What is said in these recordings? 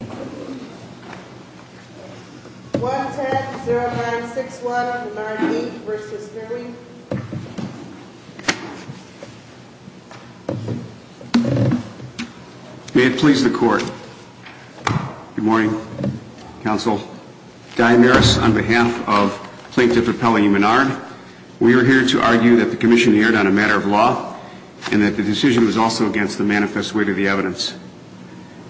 May it please the Court. Good morning, Counsel. Diane Maris, on behalf of Plaintiff Appellee Menard, we are here to argue that the Commission erred on a matter of law and that the decision was also against the manifest weight of the evidence.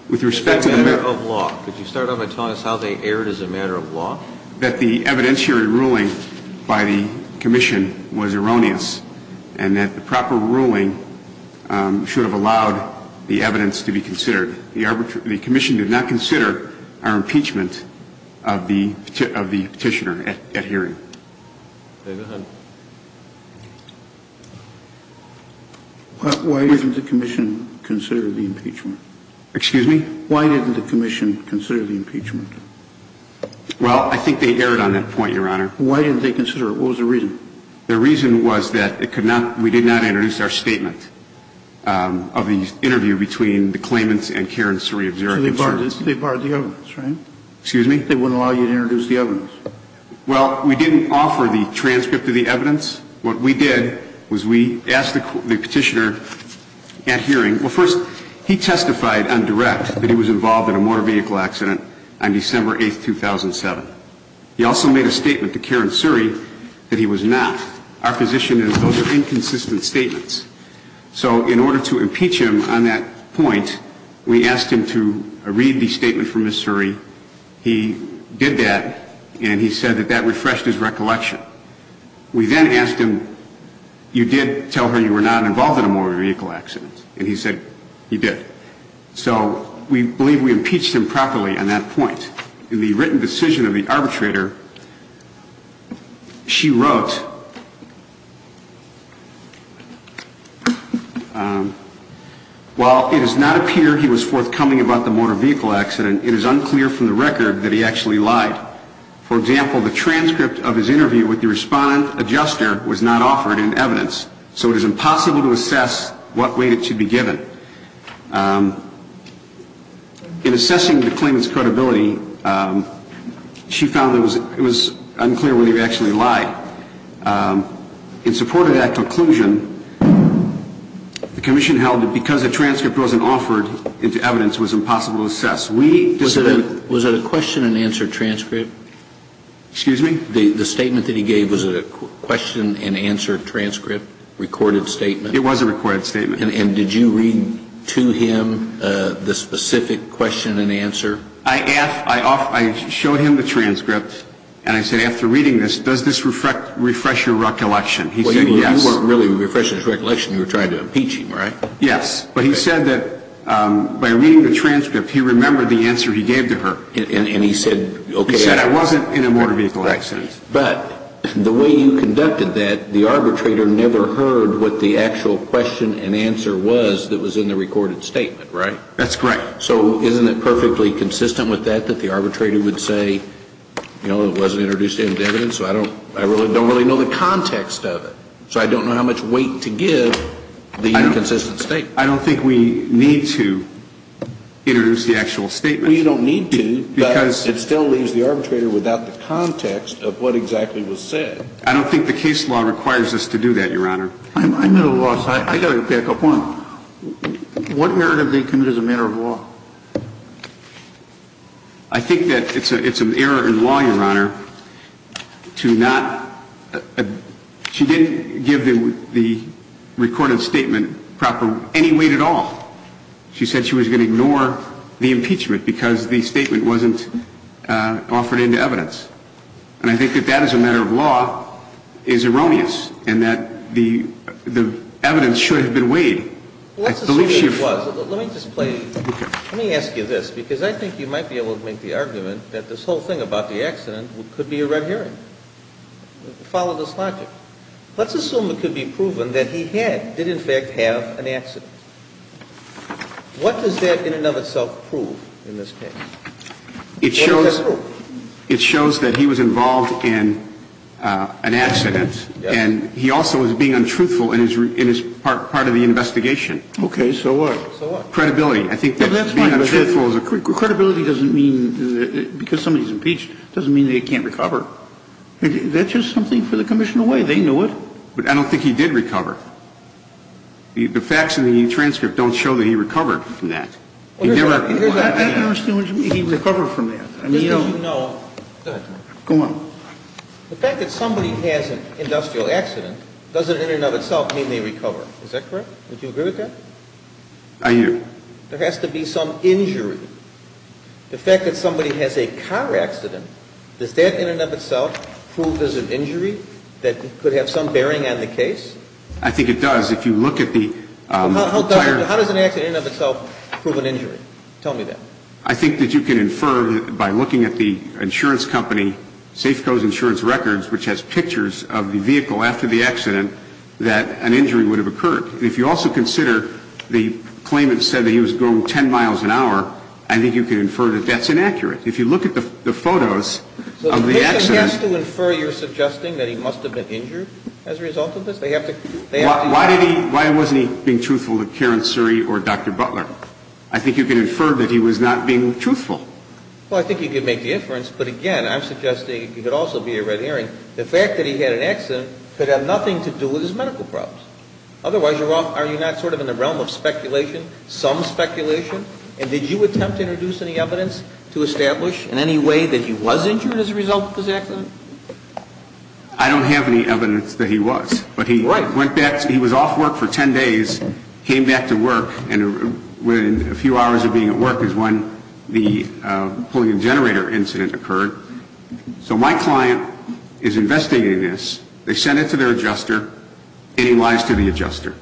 That's a matter of law. Could you start off by telling us how they erred as a matter of law? That the evidentiary ruling by the Commission was erroneous and that the proper ruling should have allowed the evidence to be considered. The Commission did not consider our impeachment of the Petitioner at hearing. Why didn't the Commission consider the impeachment? Well, I think they erred on that point, Your Honor. Why didn't they consider it? What was the reason? The reason was that it could not, we did not introduce our statement of the interview between the claimants and Karen Suri of Zurich. So they barred the evidence, right? Excuse me? They wouldn't allow you to introduce the evidence. Well, we didn't offer the transcript of the evidence. What we did was we asked the Petitioner at hearing, well, first, he testified on direct that he was involved in a motor vehicle accident on December 8, 2007. He also made a statement to Karen Suri that he was not. Our position is those are inconsistent statements. So in order to impeach him on that point, we asked him to read the statement from Ms. Suri. He did that, and he said that that refreshed his recollection. We then asked him, you did tell her you were not involved in a motor vehicle accident? And he said he did. So we believe we impeached him properly on that point. In the written decision of the arbitrator, she wrote, while it does not appear he was forthcoming about the motor vehicle accident, it is unclear from the record that he actually lied. For example, the transcript of his interview with the respondent adjuster was not offered in evidence. So it is impossible to assess what weight it should be given. In assessing the claimant's credibility, she found there was no evidence that he was involved in a motor vehicle accident. So it was unclear whether he actually lied. In support of that conclusion, the commission held that because the transcript wasn't offered into evidence, it was impossible to assess. Was it a question and answer transcript? Excuse me? The statement that he gave, was it a question and answer transcript? And I said after reading this, does this refresh your recollection? He said yes. You weren't really refreshing his recollection, you were trying to impeach him, right? Yes. But he said that by reading the transcript, he remembered the answer he gave to her. And he said okay. He said I wasn't in a motor vehicle accident. But the way you conducted that, the arbitrator never heard what the actual question and answer was that was in the recorded statement, right? That's correct. So isn't it perfectly consistent with that, that the arbitrator would say, you know, it wasn't introduced into evidence, so I don't really know the context of it. So I don't know how much weight to give the inconsistent statement. I don't think we need to introduce the actual statement. Well, you don't need to, but it still leaves the arbitrator without the context of what exactly was said. I don't think the case law requires us to do that, Your Honor. I'm at a loss. I've got to pick up one. What narrative did they commit as a matter of law? I think that it's an error in law, Your Honor, to not, she didn't give the recorded statement proper, any weight at all. She said she was going to ignore the impeachment because the statement wasn't offered into evidence. And I think that that as a matter of law is erroneous in that the evidence should have been weighed. Well, let's assume it was. Let me just play. Let me ask you this, because I think you might be able to make the argument that this whole thing about the accident could be a red herring. Follow this logic. Let's assume it could be proven that he had, did in fact have, an accident. What does that in and of itself prove in this case? What does that prove? It shows that he was involved in an accident. And he also was being untruthful in his part of the investigation. Okay. So what? Credibility. I think that being untruthful is a critical. Credibility doesn't mean, because somebody's impeached, doesn't mean they can't recover. That's just something for the commission to weigh. They knew it. But I don't think he did recover. The facts in the transcript don't show that he recovered from that. I don't understand what you mean, he recovered from that. Just so you know. Go ahead. Go on. The fact that somebody has an industrial accident doesn't in and of itself mean they recover. Is that correct? Would you agree with that? I do. There has to be some injury. The fact that somebody has a car accident, does that in and of itself prove there's an injury that could have some bearing on the case? I think it does. If you look at the entire How does an accident in and of itself prove an injury? Tell me that. I think that you can infer by looking at the insurance company, Safeco's insurance records, which has pictures of the vehicle after the accident, that an injury would have occurred. If you also consider the claimant said that he was going 10 miles an hour, I think you can infer that that's inaccurate. If you look at the photos of the accident So the commission has to infer you're suggesting that he must have been injured as a result of this? They have to Why wasn't he being truthful to Karen Suri or Dr. Butler? I think you can infer that he was not being truthful. Well, I think you can make the inference, but again, I'm suggesting it could also be a red herring. The fact that he had an accident could have nothing to do with his medical problems. Otherwise, are you not sort of in the realm of speculation, some speculation? And did you attempt to introduce any evidence to establish in any way that he was injured as a result of this accident? I don't have any evidence that he was, but he went back. He was off work for 10 days, came back to work, and within a few hours of being at work is when the pulling a generator incident occurred. So my client is investigating this. They sent it to their adjuster, and he lies to the adjuster.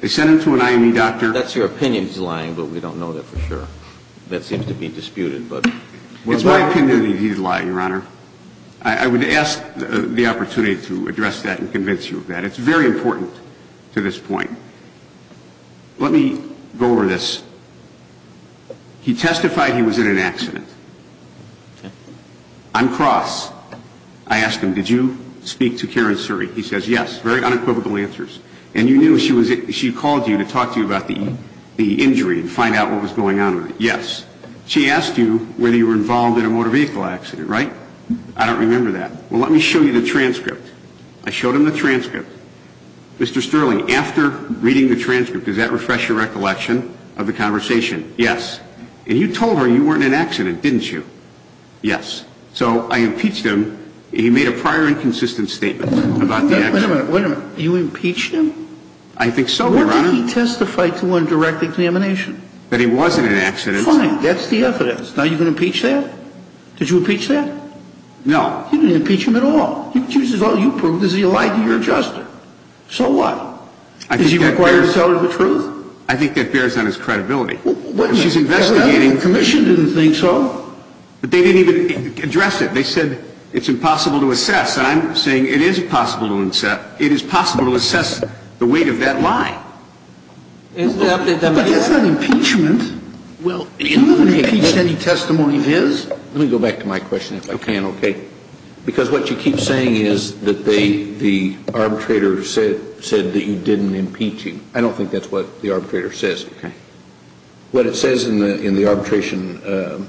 They sent him to an IME doctor That's your opinion he's lying, but we don't know that for sure. That seems to be disputed, but It's my opinion that he's lying, Your Honor. I would ask the opportunity to address that and convince you of that. It's very important to this point. Let me go over this. He testified he was in an accident. On cross, I asked him, did you speak to Karen Suri? He says, yes. Very unequivocal answers. And you knew she called you to talk to you about the injury and find out what was going on with it. Yes. She asked you whether you were involved in a motor vehicle accident, right? I don't remember that. Well, let me show you the transcript. I showed him the transcript. Mr. Sterling, after reading the transcript, does that refresh your recollection of the conversation? Yes. And you told her you weren't in an accident, didn't you? Yes. So I impeached him, and he made a prior inconsistent statement about the accident. Wait a minute. Wait a minute. You impeached him? I think so, Your Honor. Where did he testify to on direct examination? That he wasn't in an accident. Fine. That's the evidence. Now you're going to impeach that? Did you impeach that? No. You didn't impeach him at all. You accused him. All you proved is he lied to your justice. So what? Does he require to tell her the truth? I think that bears on his credibility. Wait a minute. She's investigating. The commission didn't think so. But they didn't even address it. They said it's impossible to assess. And I'm saying it is possible to assess the weight of that lie. But that's not impeachment. You haven't impeached any testimony of his. Let me go back to my question if I can, okay? Because what you keep saying is that the arbitrator said that you didn't impeach him. I don't think that's what the arbitrator says. Okay. What it says in the arbitration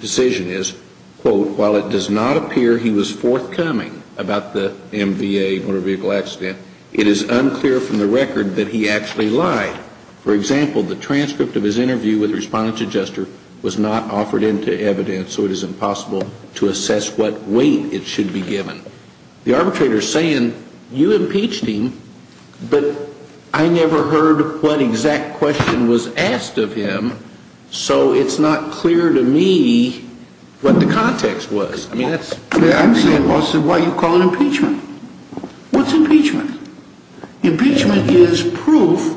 decision is, quote, while it does not appear he was forthcoming about the MVA, motor vehicle accident, it is unclear from the record that he actually lied. For example, the transcript of his interview with the respondent's adjuster was not offered into evidence, so it is impossible to assess what weight it should be given. The arbitrator is saying you impeached him, but I never heard what exact question was asked of him, so it's not clear to me what the context was. I mean, that's ‑‑ I'm saying, why are you calling impeachment? What's impeachment? Impeachment is proof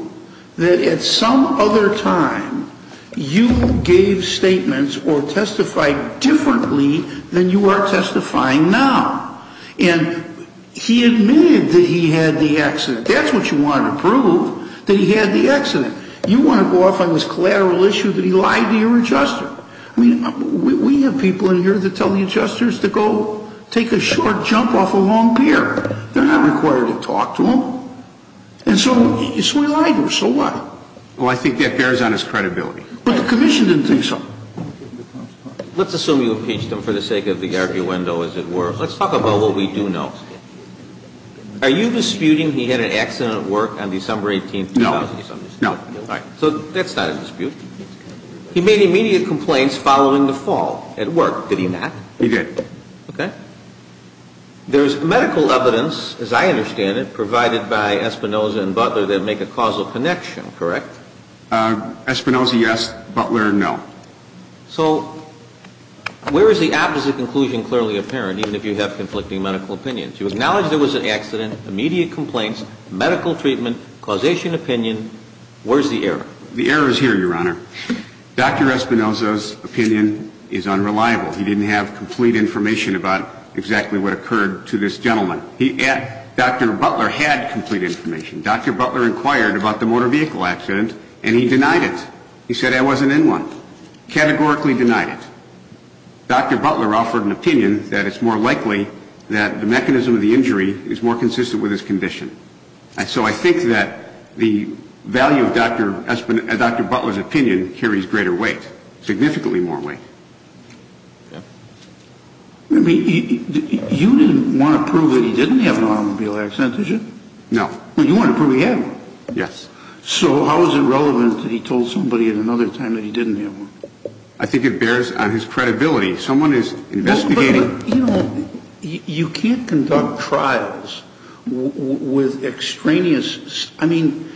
that at some other time you gave statements or testified differently than you are testifying now. And he admitted that he had the accident. That's what you wanted to prove, that he had the accident. You want to go off on this collateral issue that he lied to your adjuster. I mean, we have people in here that tell the adjusters to go take a short jump off a long pier. They're not required to talk to him. And so we lied to him. So what? Well, I think that bears on his credibility. But the commission didn't think so. Let's assume you impeached him for the sake of the arguendo, as it were. Let's talk about what we do know. Are you disputing he had an accident at work on December 18th, 2000? No. So that's not a dispute. He made immediate complaints following the fall at work. Did he not? He did. Okay. There's medical evidence, as I understand it, provided by Espinoza and Butler that make a causal connection, correct? Espinoza, yes. Butler, no. So where is the opposite conclusion clearly apparent, even if you have conflicting medical opinions? You acknowledge there was an accident, immediate complaints, medical treatment, causation opinion. Where's the error? The error is here, Your Honor. Dr. Espinoza's opinion is unreliable. He didn't have complete information about exactly what occurred to this gentleman. Dr. Butler had complete information. Dr. Butler inquired about the motor vehicle accident and he denied it. He said I wasn't in one. Categorically denied it. Dr. Butler offered an opinion that it's more likely that the mechanism of the injury is more consistent with his condition. So I think that the value of Dr. Butler's opinion carries greater weight, significantly more weight. I mean, you didn't want to prove that he didn't have an automobile accident, did you? No. Well, you want to prove he had one. Yes. So how is it relevant that he told somebody at another time that he didn't have one? I think it bears on his credibility. Someone is investigating. But, you know, you can't conduct trials with extraneous. I mean,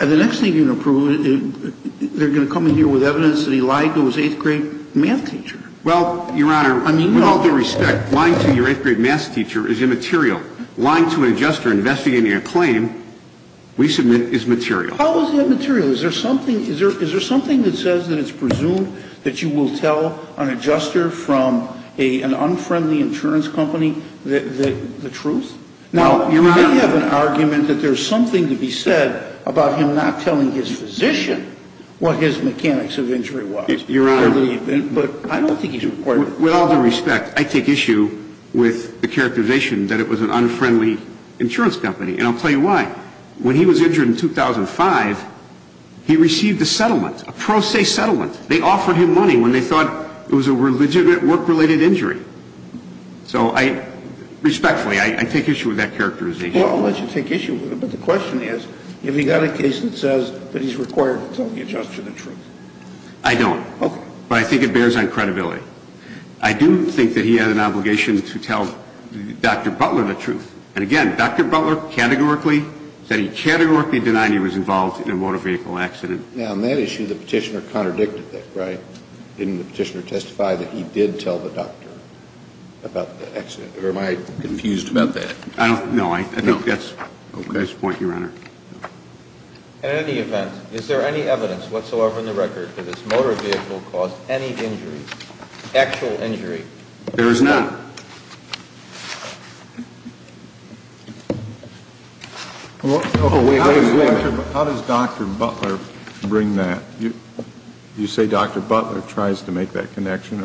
the next thing you're going to prove, they're going to come in here with evidence that he lied to his eighth grade math teacher. Well, Your Honor, with all due respect, lying to your eighth grade math teacher is immaterial. Lying to an adjuster investigating a claim we submit is material. How is it immaterial? Is there something that says that it's presumed that you will tell an adjuster from an unfriendly insurance company the truth? Now, they have an argument that there's something to be said about him not telling his physician what his mechanics of injury was. Your Honor. But I don't think he's required. With all due respect, I take issue with the characterization that it was an unfriendly insurance company. And I'll tell you why. When he was injured in 2005, he received a settlement, a pro se settlement. They offered him money when they thought it was a legitimate work-related injury. So I respectfully, I take issue with that characterization. Well, I'll let you take issue with it. But the question is, have you got a case that says that he's required to tell the adjuster the truth? I don't. Okay. But I think it bears on credibility. I do think that he had an obligation to tell Dr. Butler the truth. And again, Dr. Butler categorically said he categorically denied he was involved in a motor vehicle accident. Now, on that issue, the petitioner contradicted that, right? Didn't the petitioner testify that he did tell the doctor about the accident? Or am I confused about that? No, I think that's the point, Your Honor. In any event, is there any evidence whatsoever in the record that this motor vehicle caused any injury, actual injury? There is none. How does Dr. Butler bring that? You say Dr. Butler tries to make that connection?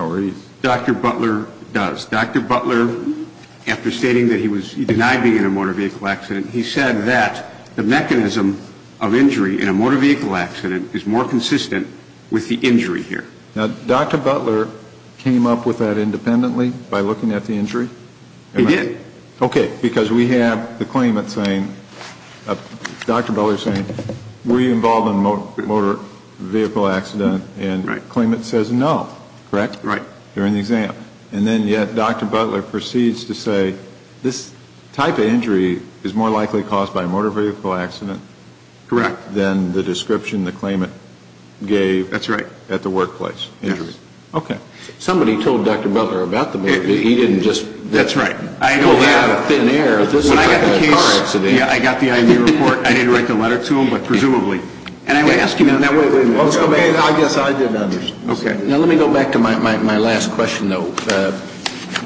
Dr. Butler does. Dr. Butler, after stating that he denied being in a motor vehicle accident, he said that the mechanism of injury in a motor vehicle accident is more consistent with the injury here. He did. Okay. Because we have the claimant saying, Dr. Butler saying, were you involved in a motor vehicle accident? And the claimant says no. Correct? Right. During the exam. And then yet Dr. Butler proceeds to say this type of injury is more likely caused by a motor vehicle accident than the description the claimant gave at the workplace. Yes. Okay. Somebody told Dr. Butler about the motor vehicle. He didn't just. That's right. I know that out of thin air. When I got the case. When I got the car accident. Yeah, I got the IMU report. I didn't write the letter to him, but presumably. And I asked him. Wait, wait, wait. I guess I didn't understand. Okay. Now, let me go back to my last question, though.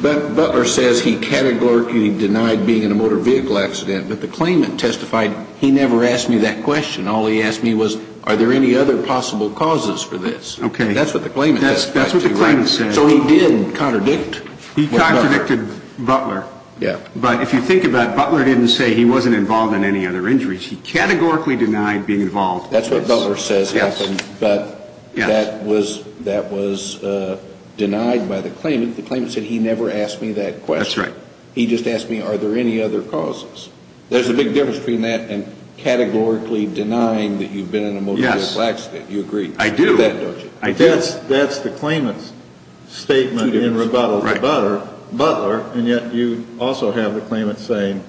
Butler says he categorically denied being in a motor vehicle accident, but the claimant testified he never asked me that question. All he asked me was, are there any other possible causes for this? Okay. That's what the claimant said. That's what the claimant said. So he did contradict. He contradicted Butler. Yeah. But if you think about it, Butler didn't say he wasn't involved in any other injuries. He categorically denied being involved. That's what Butler says happened. Yes. But that was denied by the claimant. The claimant said he never asked me that question. That's right. He just asked me, are there any other causes? There's a big difference between that and categorically denying that you've been in a motor vehicle accident. Yes. You agree with that, don't you? I do. That's the claimant's statement in rebuttal to Butler, and yet you also have the claimant saying,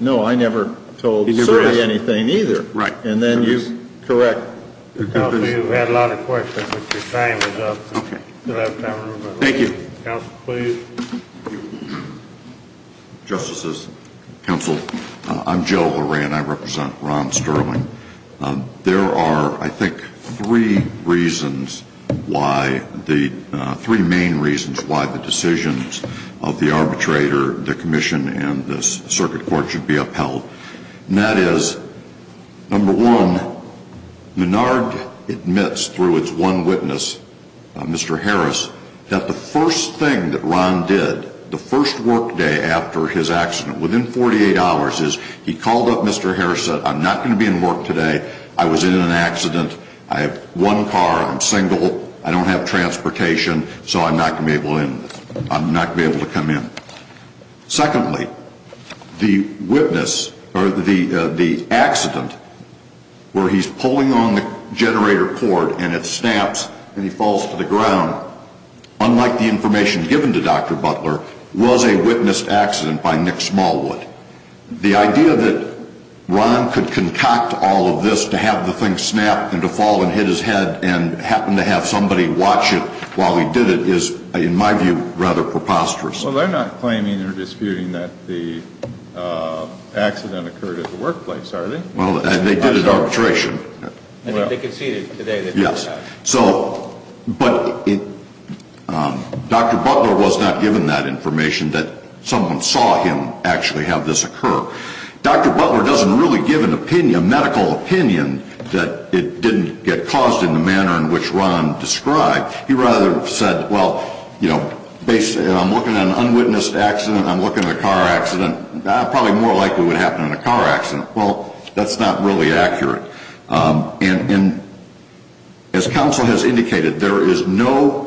no, I never told Suri anything either. Right. And then you correct. Counsel, you've had a lot of questions, but your time is up. Okay. You'll have time to move on. Thank you. Counsel, please. Justices, counsel, I'm Joe Horan. I represent Ron Sterling. There are, I think, three reasons why, three main reasons why the decisions of the arbitrator, the commission, and the circuit court should be upheld. And that is, number one, Menard admits through its one witness, Mr. Harris, that the first thing that Ron did, the first work day after his accident, within 48 hours, is he called up Mr. Harris and said, I'm not going to be in work today. I was in an accident. I have one car. I'm single. I don't have transportation, so I'm not going to be able to come in. Secondly, the witness, or the accident where he's pulling on the generator cord and it snaps and he falls to the ground, unlike the information given to Dr. Smallwood. The idea that Ron could concoct all of this to have the thing snap and to fall and hit his head and happen to have somebody watch it while he did it is, in my view, rather preposterous. Well, they're not claiming or disputing that the accident occurred at the workplace, are they? Well, they did at arbitration. I think they conceded today that they had. Yes. But Dr. Butler was not given that information that someone saw him actually have this occur. Dr. Butler doesn't really give a medical opinion that it didn't get caused in the manner in which Ron described. He rather said, well, I'm looking at an unwitnessed accident. I'm looking at a car accident. Probably more likely it would happen in a car accident. Well, that's not really accurate. And as counsel has indicated, there is no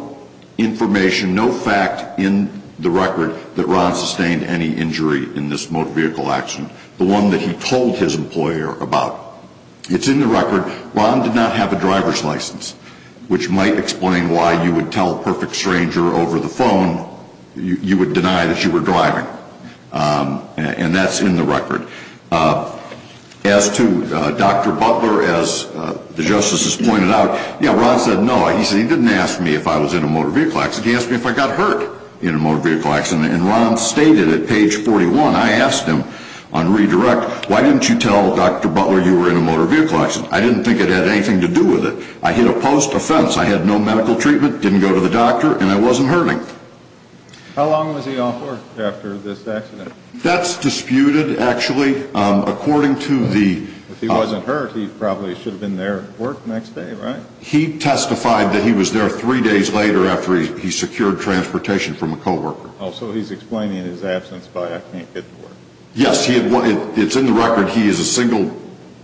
information, no fact in the record that Ron sustained any injury in this motor vehicle accident, the one that he told his employer about. It's in the record. Ron did not have a driver's license, which might explain why you would tell a perfect stranger over the phone you would deny that you were driving. And that's in the record. As to Dr. Butler, as the justices pointed out, yeah, Ron said no. He said he didn't ask me if I was in a motor vehicle accident. He asked me if I got hurt in a motor vehicle accident. And Ron stated at page 41, I asked him on redirect, why didn't you tell Dr. Butler you were in a motor vehicle accident? I didn't think it had anything to do with it. I hit a post offense. I had no medical treatment, didn't go to the doctor, and I wasn't hurting. How long was he on for after this accident? That's disputed, actually. According to the – If he wasn't hurt, he probably should have been there at work the next day, right? He testified that he was there three days later after he secured transportation from a co-worker. Oh, so he's explaining his absence by I can't get to work. Yes. It's in the record. He is a single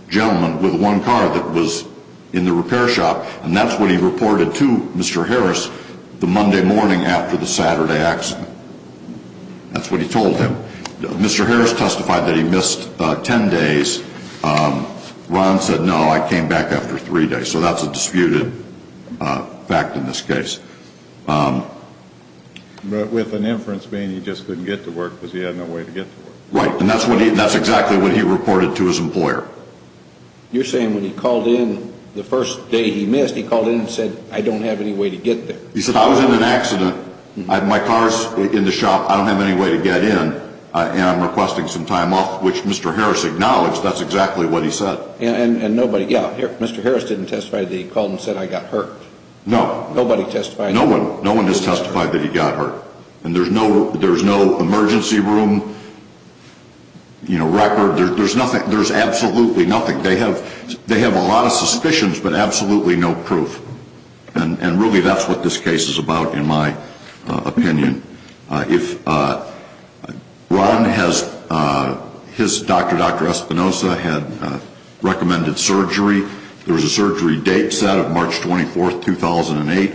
gentleman with one car that was in the repair shop, and that's what he reported to Mr. Harris the Monday morning after the Saturday accident. That's what he told him. Mr. Harris testified that he missed ten days. Ron said, no, I came back after three days. So that's a disputed fact in this case. But with an inference being he just couldn't get to work because he had no way to get to work. Right, and that's exactly what he reported to his employer. You're saying when he called in the first day he missed, he called in and said, I don't have any way to get there. He said, I was in an accident. My car is in the shop. I don't have any way to get in, and I'm requesting some time off, which Mr. Harris acknowledged that's exactly what he said. And nobody, yeah, Mr. Harris didn't testify that he called and said, I got hurt. No. Nobody testified. No one has testified that he got hurt. And there's no emergency room record. There's absolutely nothing. They have a lot of suspicions but absolutely no proof. And really that's what this case is about in my opinion. If Ron has, his doctor, Dr. Espinosa, had recommended surgery. There was a surgery date set of March 24, 2008.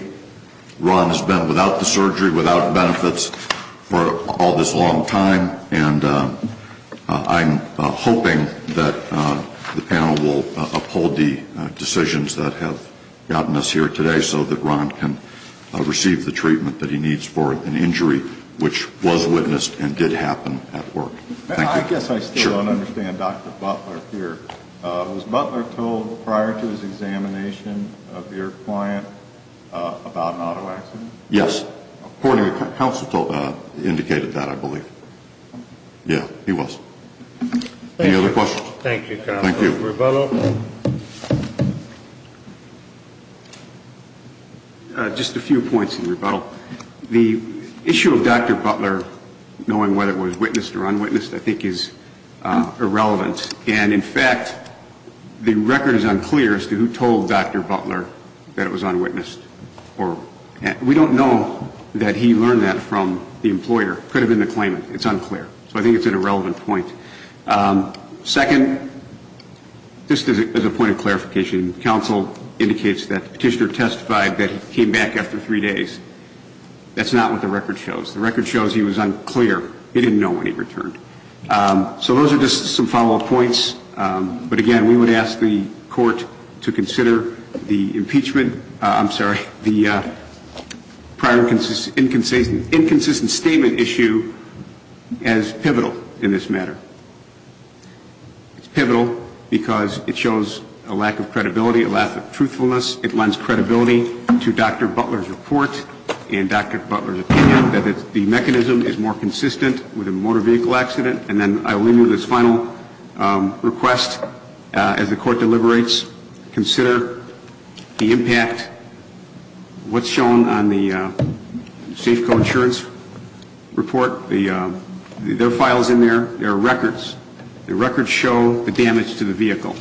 Ron has been without the surgery, without benefits for all this long time, and I'm hoping that the panel will uphold the decisions that have gotten us here today so that Ron can receive the treatment that he needs for an injury which was witnessed and did happen at work. Thank you. I guess I still don't understand Dr. Butler here. Was Butler told prior to his examination of your client about an auto accident? Yes. According to counsel indicated that I believe. Yeah, he was. Any other questions? Thank you, counsel. Rebuttal. Just a few points in rebuttal. The issue of Dr. Butler knowing whether it was witnessed or unwitnessed I think is irrelevant. And, in fact, the record is unclear as to who told Dr. Butler that it was unwitnessed. We don't know that he learned that from the employer. It could have been the claimant. It's unclear. So I think it's an irrelevant point. Second, just as a point of clarification, counsel indicates that the petitioner testified that he came back after three days. That's not what the record shows. The record shows he was unclear. He didn't know when he returned. So those are just some follow-up points. But, again, we would ask the court to consider the impeachment I'm sorry, the prior inconsistent statement issue as pivotal in this matter. It's pivotal because it shows a lack of credibility, a lack of truthfulness. It lends credibility to Dr. Butler's report and Dr. Butler's opinion that the mechanism is more consistent with a motor vehicle accident. And then I will leave you with this final request as the court deliberates. Consider the impact, what's shown on the Safeco insurance report. There are files in there. There are records. The records show the damage to the vehicle.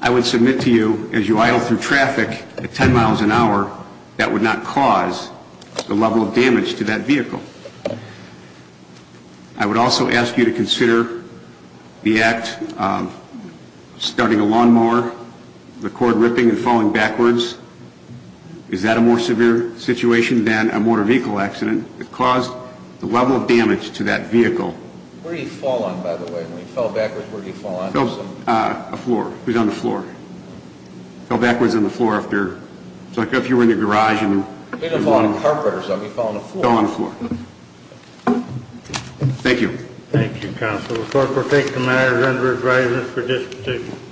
I would submit to you, as you idle through traffic at 10 miles an hour, that would not cause the level of damage to that vehicle. I would also ask you to consider the act of starting a lawn mower, the cord ripping and falling backwards. Is that a more severe situation than a motor vehicle accident that caused the level of damage to that vehicle? Where did he fall on, by the way? When he fell backwards, where did he fall on? He fell on the floor. He fell backwards on the floor. It's like if you were in the garage. He didn't fall on the carpet or something. He fell on the floor. He fell on the floor. Thank you. Thank you, Counsel. The court will take the matter under adjustment for discussion.